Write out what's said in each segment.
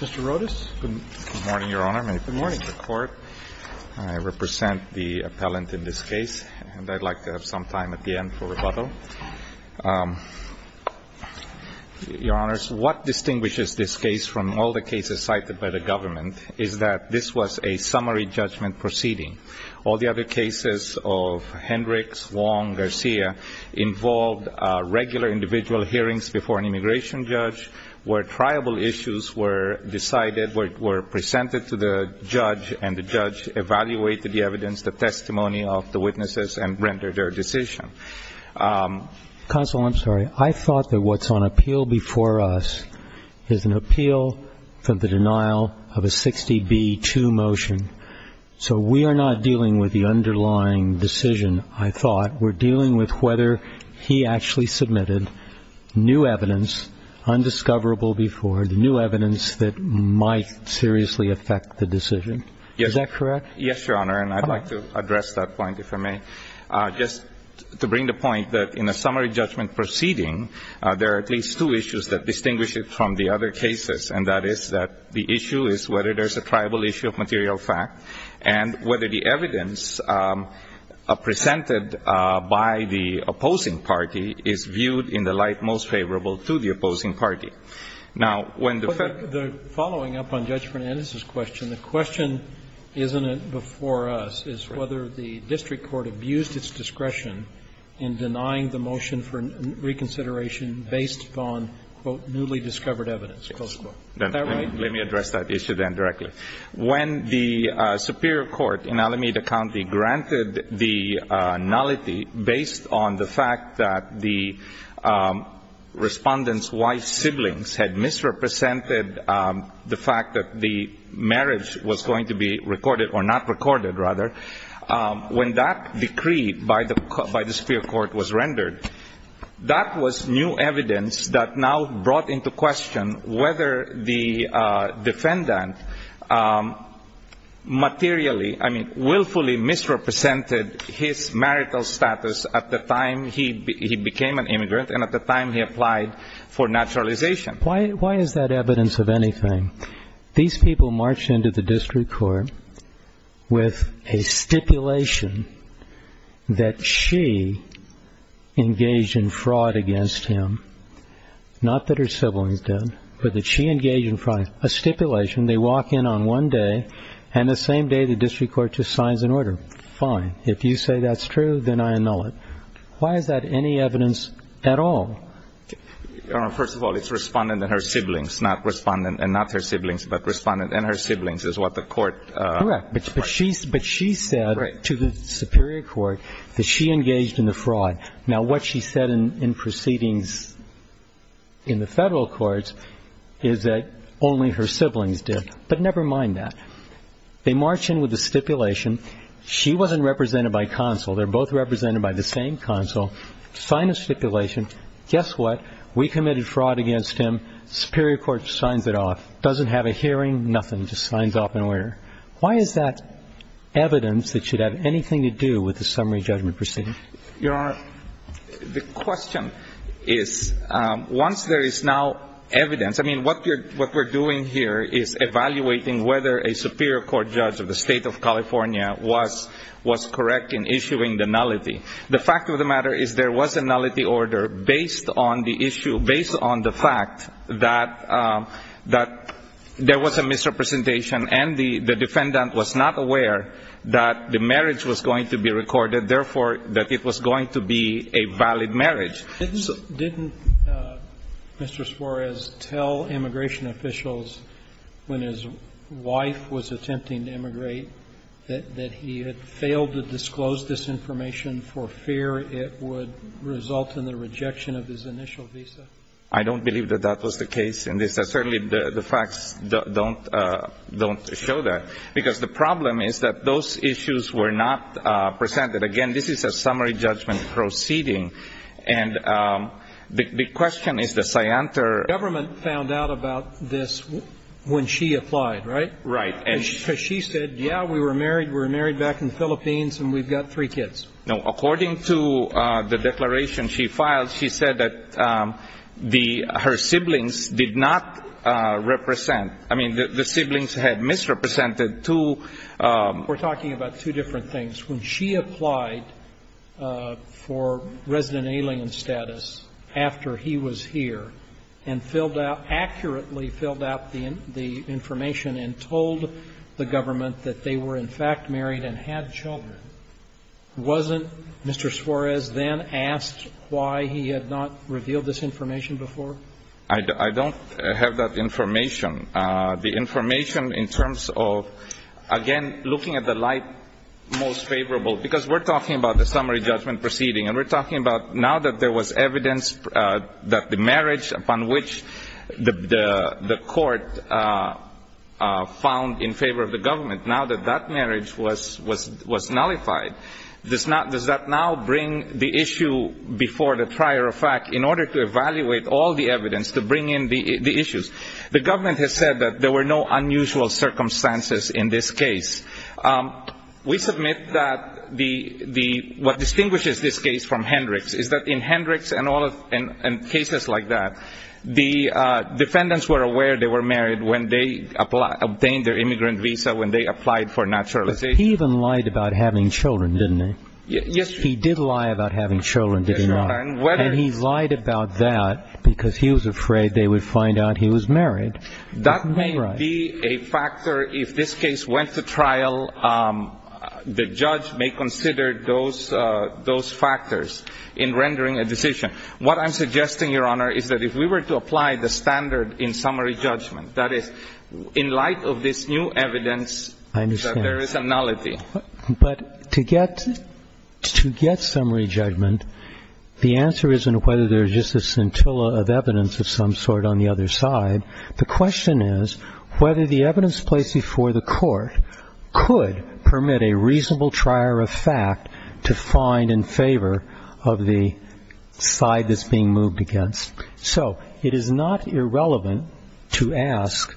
Mr. Rodas. Good morning, Your Honor. I represent the appellant in this case, and I'd like to have some time at the end for rebuttal. Your Honor, what distinguishes this case from all the cases cited by the government is that this was a summary judgment proceeding. All the other cases of Hendricks, Wong, Garcia involved regular individual hearings before an immigration judge where triable issues were decided, were presented to the judge, and the judge evaluated the evidence, the testimony of the witnesses, and rendered their decision. Counsel, I'm sorry. I thought that what's on appeal before us is an appeal for the denial of a 60B2 motion. So we are not dealing with the underlying decision, I thought. We're dealing with whether he actually submitted new evidence, undiscoverable before, new evidence that might seriously affect the decision. Is that correct? Yes, Your Honor, and I'd like to address that point, if I may. Just to bring the point that in a summary judgment proceeding, there are at least two issues that distinguish it from the other cases, and that is that the issue is whether there's a triable issue of material fact and whether the evidence presented by the opposing party is viewed in the light most favorable to the opposing party. Now, when the Fed ---- The following up on Judge Fernandez's question, the question isn't before us is whether the district court abused its discretion in denying the motion for reconsideration based on, quote, newly discovered evidence, close quote. Is that right? Let me address that issue then directly. When the superior court in Alameda County granted the nullity based on the fact that the Respondent's wife's siblings had misrepresented the fact that the marriage was going to be recorded or not recorded, rather, when that decree by the superior court was rendered, that was new evidence that now brought into question whether the defendant materially, I mean, willfully misrepresented his marital status at the time he became an immigrant and at the time he applied for naturalization. Why is that evidence of anything? These people marched into the district court with a stipulation that she engaged in fraud against him, not that her siblings did, but that she engaged in fraud. A stipulation. They walk in on one day and the same day the district court just signs an order. Fine. If you say that's true, then I annul it. Why is that any evidence at all? First of all, it's Respondent and her siblings, not Respondent and not her siblings, but Respondent and her siblings is what the court. Correct. But she said to the superior court that she engaged in the fraud. Now, what she said in proceedings in the federal courts is that only her siblings did. But never mind that. They march in with a stipulation. She wasn't represented by counsel. They're both represented by the same counsel. Sign a stipulation. Guess what? We committed fraud against him. Superior court signs it off. Doesn't have a hearing. Nothing. Just signs off an order. Why is that evidence that should have anything to do with the summary judgment proceeding? Your Honor, the question is, once there is now evidence, I mean, what we're doing here is evaluating whether a superior court judge of the State of California was correct in issuing the nullity. The fact of the matter is there was a nullity order based on the issue, based on the fact that there was a misrepresentation and the defendant was not aware that the marriage was going to be recorded, therefore, that it was going to be a valid marriage. Didn't Mr. Suarez tell immigration officials when his wife was attempting to immigrate that he had failed to disclose this information for fear it would result in the rejection of his initial visa? I don't believe that that was the case in this. Certainly, the facts don't show that. Because the problem is that those issues were not presented. Again, this is a summary judgment proceeding. And the question is the scienter ---- The government found out about this when she applied, right? Right. Because she said, yeah, we were married, we were married back in the Philippines, and we've got three kids. No. According to the declaration she filed, she said that the ---- her siblings did not represent ---- I mean, the siblings had misrepresented two ---- We're talking about two different things. When she applied for resident alien status after he was here and filled out ---- accurately filled out the information and told the government that they were in fact married and had children, wasn't Mr. Suarez then asked why he had not revealed this information before? I don't have that information. The information in terms of, again, looking at the light most favorable, because we're talking about the summary judgment proceeding. And we're talking about now that there was evidence that the marriage upon which the court found in favor of the government, now that that marriage was nullified, does that now bring the issue before the trier of fact in order to evaluate all the evidence to bring in the issues? The government has said that there were no unusual circumstances in this case. We submit that the ---- what distinguishes this case from Hendricks is that in Hendricks and all of ---- and cases like that, the defendants were aware they were married when they obtained their immigrant visa when they applied for naturalization. But he even lied about having children, didn't he? Yes, Your Honor. He did lie about having children, did he not? Yes, Your Honor. And whether ---- And he lied about that because he was afraid they would find out he was married. That may be a factor if this case went to trial. The judge may consider those factors in rendering a decision. What I'm suggesting, Your Honor, is that if we were to apply the standard in summary judgment, that is, in light of this new evidence that there is a nullity. I understand. But to get summary judgment, the answer isn't whether there's just a scintilla of evidence of some sort on the other side. The question is whether the evidence placed before the court could permit a reasonable trier of fact to find in favor of the side that's being moved against. So it is not irrelevant to ask,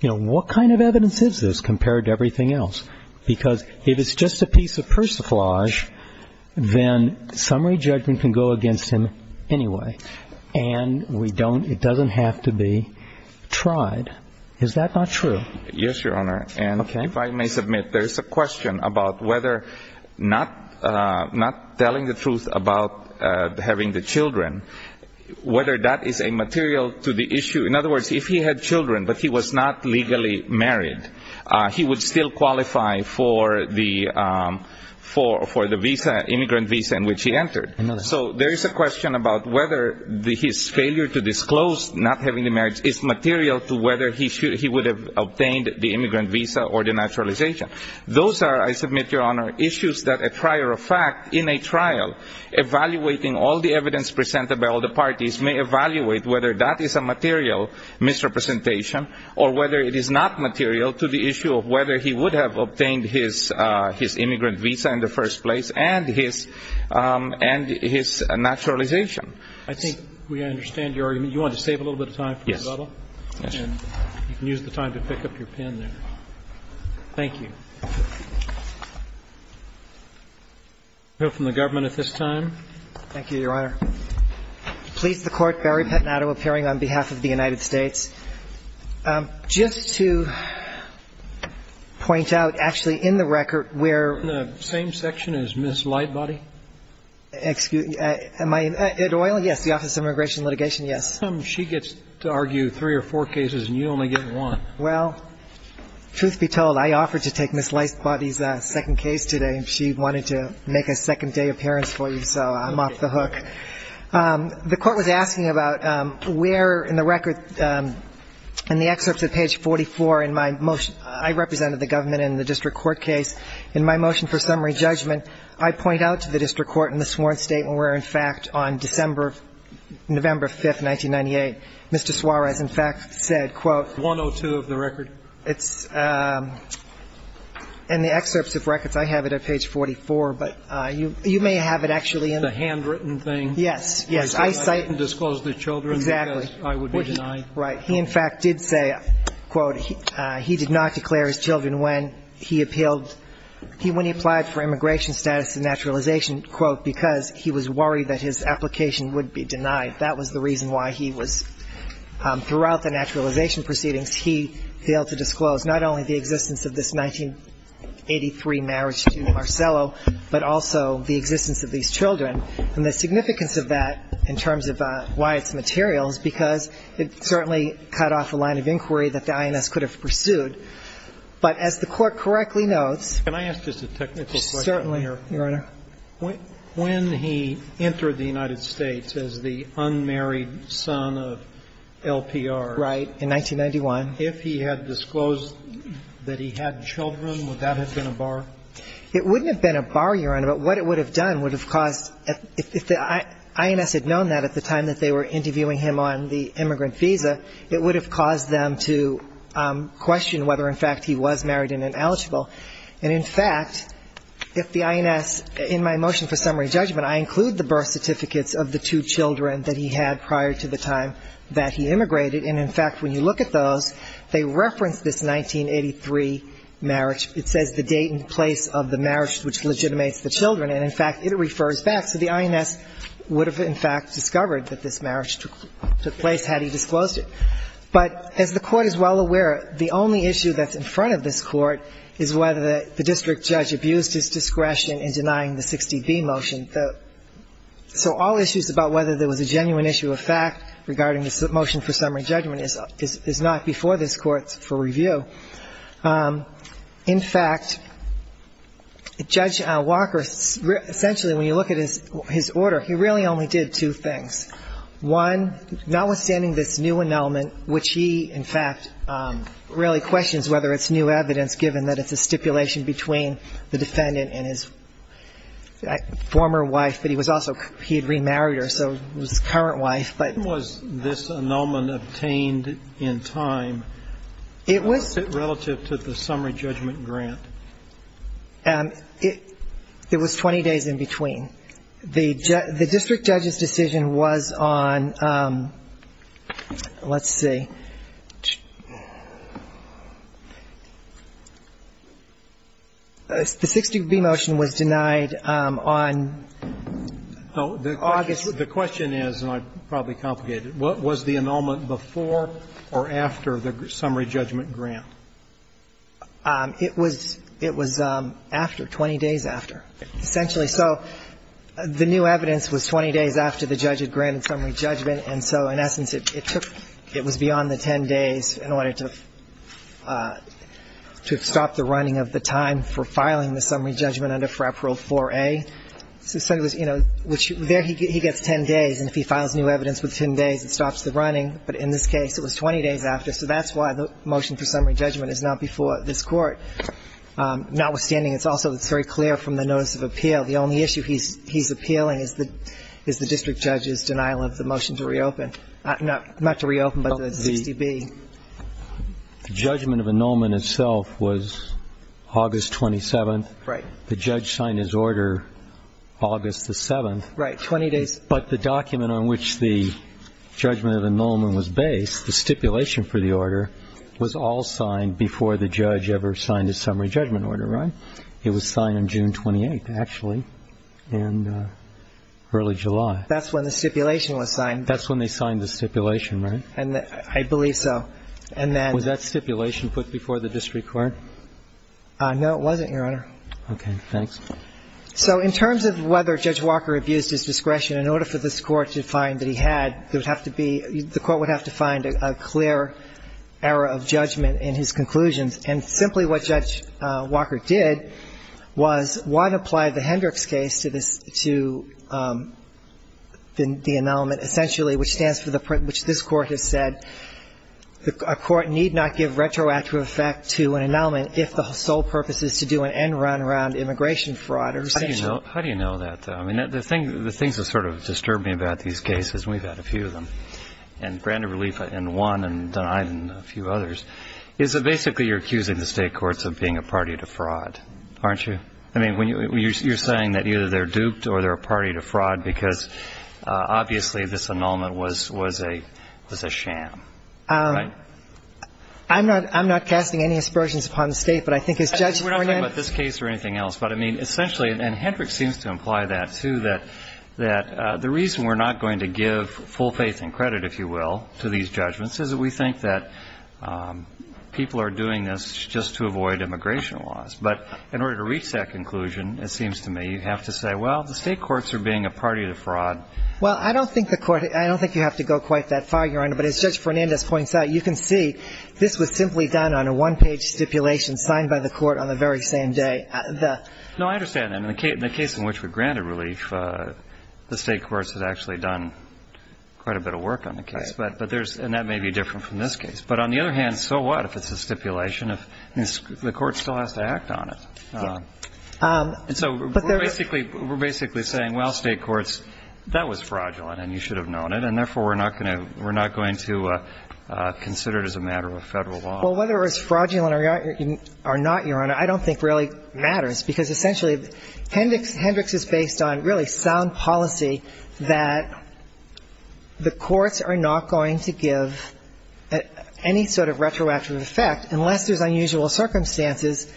you know, what kind of evidence is this compared to everything else? Because if it's just a piece of persiflage, then summary judgment can go against him anyway. And we don't ---- it doesn't have to be tried. Is that not true? Yes, Your Honor. Okay. And if I may submit, there's a question about whether not telling the truth about having the children, whether that is a material to the issue. In other words, if he had children but he was not legally married, he would still I know that. So there is a question about whether his failure to disclose not having the marriage is material to whether he would have obtained the immigrant visa or the naturalization. Those are, I submit, Your Honor, issues that a trier of fact in a trial evaluating all the evidence presented by all the parties may evaluate whether that is a material misrepresentation or whether it is not material to the issue of whether he would have obtained his immigrant visa in the first place and his naturalization. I think we understand your argument. You want to save a little bit of time for rebuttal? Yes. And you can use the time to pick up your pen there. Thank you. No from the government at this time. Thank you, Your Honor. Please the Court, Barry Pettinato appearing on behalf of the United States. Just to point out, actually, in the record where The same section as Ms. Lightbody? Excuse me. Yes, the Office of Immigration and Litigation, yes. She gets to argue three or four cases and you only get one. Well, truth be told, I offered to take Ms. Lightbody's second case today. She wanted to make a second day appearance for you, so I'm off the hook. The Court was asking about where in the record in the excerpts of page 44 in my motion I represented the government in the district court case. In my motion for summary judgment, I point out to the district court in the sworn statement where, in fact, on November 5, 1998, Mr. Suarez, in fact, said, quote 102 of the record. It's in the excerpts of records. I have it at page 44, but you may have it actually in the handwritten thing. Yes, yes. I didn't disclose the children. Exactly. Because I would be denied. Right. He, in fact, did say, quote, he did not declare his children when he appealed when he applied for immigration status and naturalization, quote, because he was worried that his application would be denied. That was the reason why he was Throughout the naturalization proceedings, he failed to disclose not only the existence of this 1983 marriage to Marcello, but also the existence of these children. And the significance of that in terms of why it's material is because it certainly cut off the line of inquiry that the INS could have pursued. But as the Court correctly notes Can I ask just a technical question here? Certainly, Your Honor. When he entered the United States as the unmarried son of LPR Right. In 1991 If he had disclosed that he had children, would that have been a bar? It wouldn't have been a bar, Your Honor. But what it would have done would have caused If the INS had known that at the time that they were interviewing him on the immigrant visa, it would have caused them to question whether, in fact, he was married and ineligible. And, in fact, if the INS In my motion for summary judgment, I include the birth certificates of the two children that he had prior to the time that he immigrated. And, in fact, when you look at those, they reference this 1983 marriage. It says the date and place of the marriage which legitimates the children. And, in fact, it refers back. So the INS would have, in fact, discovered that this marriage took place had he disclosed it. But as the Court is well aware, the only issue that's in front of this Court is whether the district judge abused his discretion in denying the 60B motion. So all issues about whether there was a genuine issue of fact regarding this motion for summary judgment is not before this Court for review. In fact, Judge Walker, essentially, when you look at his order, he really only did two things. One, notwithstanding this new annulment, which he, in fact, really questions whether it's new evidence given that it's a stipulation between the defendant and his former wife. But he was also he had remarried her, so his current wife. But was this annulment obtained in time relative to the summary judgment grant? It was 20 days in between. The district judge's decision was on, let's see. The 60B motion was denied on August. The question is, and I probably complicated it. Was the annulment before or after the summary judgment grant? It was after, 20 days after. Essentially, so the new evidence was 20 days after the judge had granted summary judgment, and so in essence, it was beyond the 10 days in order to stop the running of the time for filing the summary judgment under FRAP Rule 4A. So there he gets 10 days, and if he files new evidence within 10 days, it stops the running. But in this case, it was 20 days after. So that's why the motion for summary judgment is not before this Court. Notwithstanding, it's also very clear from the notice of appeal. The only issue he's appealing is the district judge's denial of the motion to reopen. Not to reopen, but the 60B. The judgment of annulment itself was August 27th. Right. The judge signed his order August the 7th. Right, 20 days. But the document on which the judgment of annulment was based, the stipulation for the order, was all signed before the judge ever signed a summary judgment order, right? It was signed on June 28th, actually, in early July. That's when the stipulation was signed. That's when they signed the stipulation, right? I believe so. Was that stipulation put before the district court? No, it wasn't, Your Honor. Okay. Thanks. So in terms of whether Judge Walker abused his discretion, in order for this Court to find that he had, there would have to be the Court would have to find a clear error of judgment in his conclusions. And simply what Judge Walker did was wide-apply the Hendricks case to the annulment essentially, which stands for the point which this Court has said, a court need not give retroactive effect to an annulment if the sole purpose is to do an end-run around immigration fraud, essentially. How do you know that, though? I mean, the things that sort of disturb me about these cases, and we've had a few of them, and granted relief in one and denied in a few others, is that basically you're accusing the State courts of being a party to fraud, aren't you? I mean, you're saying that either they're duped or they're a party to fraud because obviously this annulment was a sham, right? I'm not casting any aspersions upon the State, but I think as Judge Hornan ---- We're not talking about this case or anything else, but, I mean, essentially And Hendricks seems to imply that, too, that the reason we're not going to give full faith and credit, if you will, to these judgments is that we think that people are doing this just to avoid immigration laws. But in order to reach that conclusion, it seems to me, you have to say, well, the State courts are being a party to fraud. Well, I don't think the Court ---- I don't think you have to go quite that far, Your Honor, but as Judge Fernandez points out, you can see this was simply done on a one-page stipulation signed by the Court on the very same day. No, I understand that. In the case in which we granted relief, the State courts had actually done quite a bit of work on the case. But there's ---- and that may be different from this case. But on the other hand, so what if it's a stipulation? The Court still has to act on it. And so we're basically saying, well, State courts, that was fraudulent and you should have known it, and therefore we're not going to consider it as a matter of Federal Well, whether it's fraudulent or not, Your Honor, I don't think really matters, because essentially Hendricks is based on really sound policy that the courts are not going to give any sort of retroactive effect unless there's unusual circumstances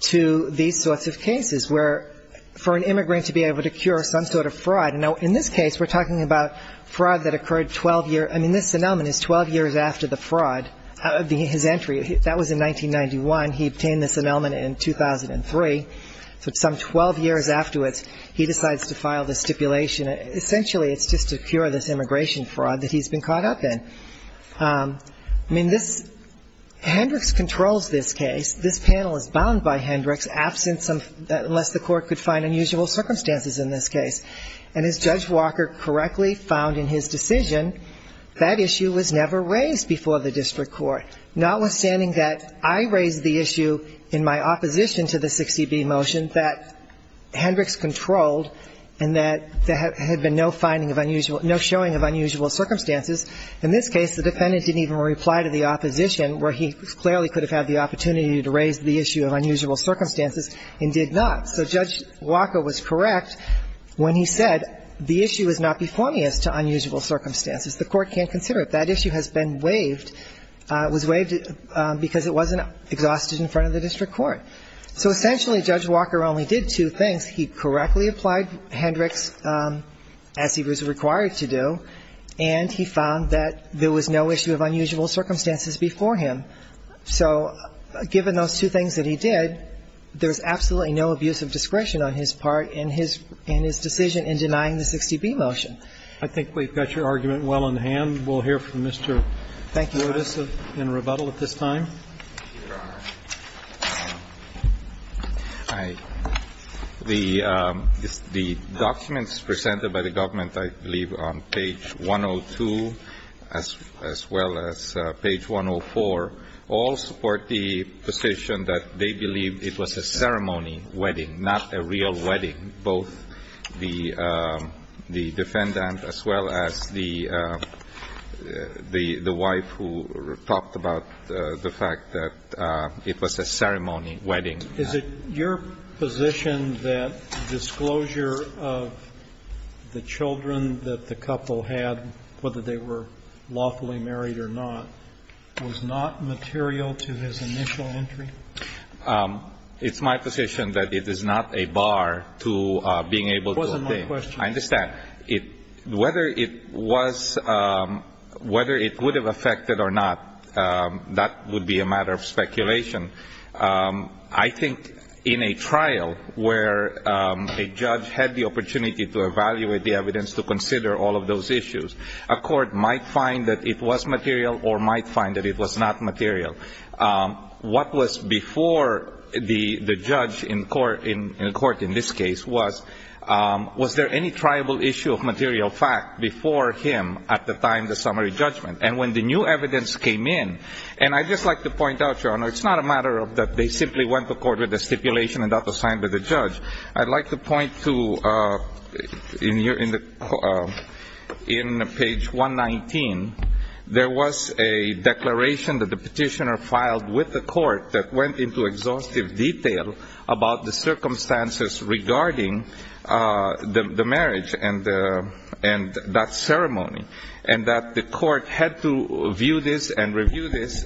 to these sorts of cases, where for an immigrant to be able to cure some sort of fraud. Now, in this case, we're talking about fraud that occurred 12 years ---- I mean, this entry, that was in 1991. He obtained this annulment in 2003. So some 12 years afterwards, he decides to file the stipulation. Essentially, it's just to cure this immigration fraud that he's been caught up in. I mean, this ---- Hendricks controls this case. This panel is bound by Hendricks, absent some ---- unless the Court could find unusual circumstances in this case. And as Judge Walker correctly found in his decision, that issue was never raised before the district court, notwithstanding that I raised the issue in my opposition to the 60B motion that Hendricks controlled and that there had been no finding of unusual ---- no showing of unusual circumstances. In this case, the defendant didn't even reply to the opposition, where he clearly could have had the opportunity to raise the issue of unusual circumstances and did not. So Judge Walker was correct when he said the issue is not before me as to unusual circumstances. The Court can't consider it. That issue has been waived, was waived because it wasn't exhausted in front of the district court. So essentially, Judge Walker only did two things. He correctly applied Hendricks, as he was required to do, and he found that there was no issue of unusual circumstances before him. So given those two things that he did, there's absolutely no abuse of discretion on his part in his ---- in his decision in denying the 60B motion. I think we've got your argument well in hand. We'll hear from Mr. Otis in rebuttal at this time. Otis. Thank you, Your Honor. Hi. The documents presented by the government, I believe, on page 102, as well as page 104, all support the position that they believe it was a ceremony wedding, not a real marriage. And I believe that the defendant, as well as the wife who talked about the fact that it was a ceremony wedding. Is it your position that disclosure of the children that the couple had, whether they were lawfully married or not, was not material to his initial entry? It's my position that it is not a bar to being able to obtain. It wasn't my question. I understand. Whether it was ---- whether it would have affected or not, that would be a matter of speculation. I think in a trial where a judge had the opportunity to evaluate the evidence to consider all of those issues, a court might find that it was material or might find that it was not material. What was before the judge in court in this case was, was there any tribal issue of material fact before him at the time of the summary judgment? And when the new evidence came in, and I'd just like to point out, Your Honor, it's not a matter of that they simply went to court with a stipulation and that was signed by the judge. I'd like to point to, in page 119, there was a declaration that the petitioner filed with the court that went into exhaustive detail about the circumstances regarding the marriage and that ceremony, and that the court had to view this and review this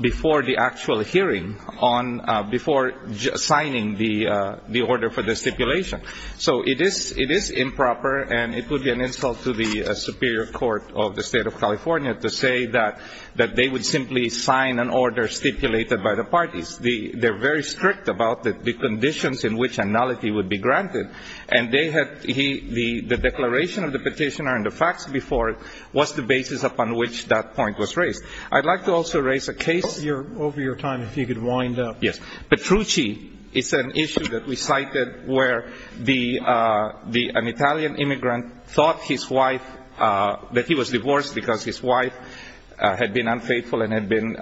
before the actual hearing on ---- before signing the order for the stipulation. So it is improper, and it would be an insult to the Superior Court of the State of California to say that they would simply sign an order stipulated by the parties. They're very strict about the conditions in which analogy would be granted, and they had the declaration of the petitioner and the facts before it was the basis upon which that point was raised. I'd like to also raise a case. Over your time, if you could wind up. Yes. Petrucci is an issue that we cited where the ---- an Italian immigrant thought his wife ---- that he was divorced because his wife had been unfaithful and had been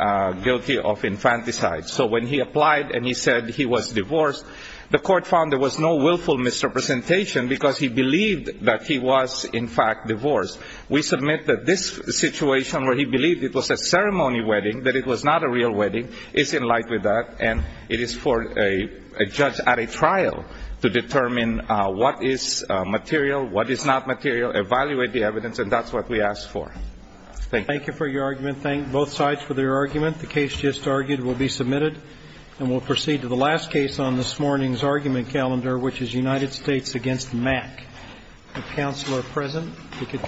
guilty of infanticide. So when he applied and he said he was divorced, the court found there was no willful misrepresentation because he believed that he was, in fact, divorced. We submit that this situation where he believed it was a ceremony wedding, that it was not a real wedding, is in light with that, and it is for a judge at a trial to determine what is material, what is not material, evaluate the evidence, and that's what we ask for. Thank you. Thank you for your argument. Thank both sides for their argument. The case just argued will be submitted, and we'll proceed to the last case on this morning's argument calendar, which is United States against MAC. If counsel are present, you can come forward.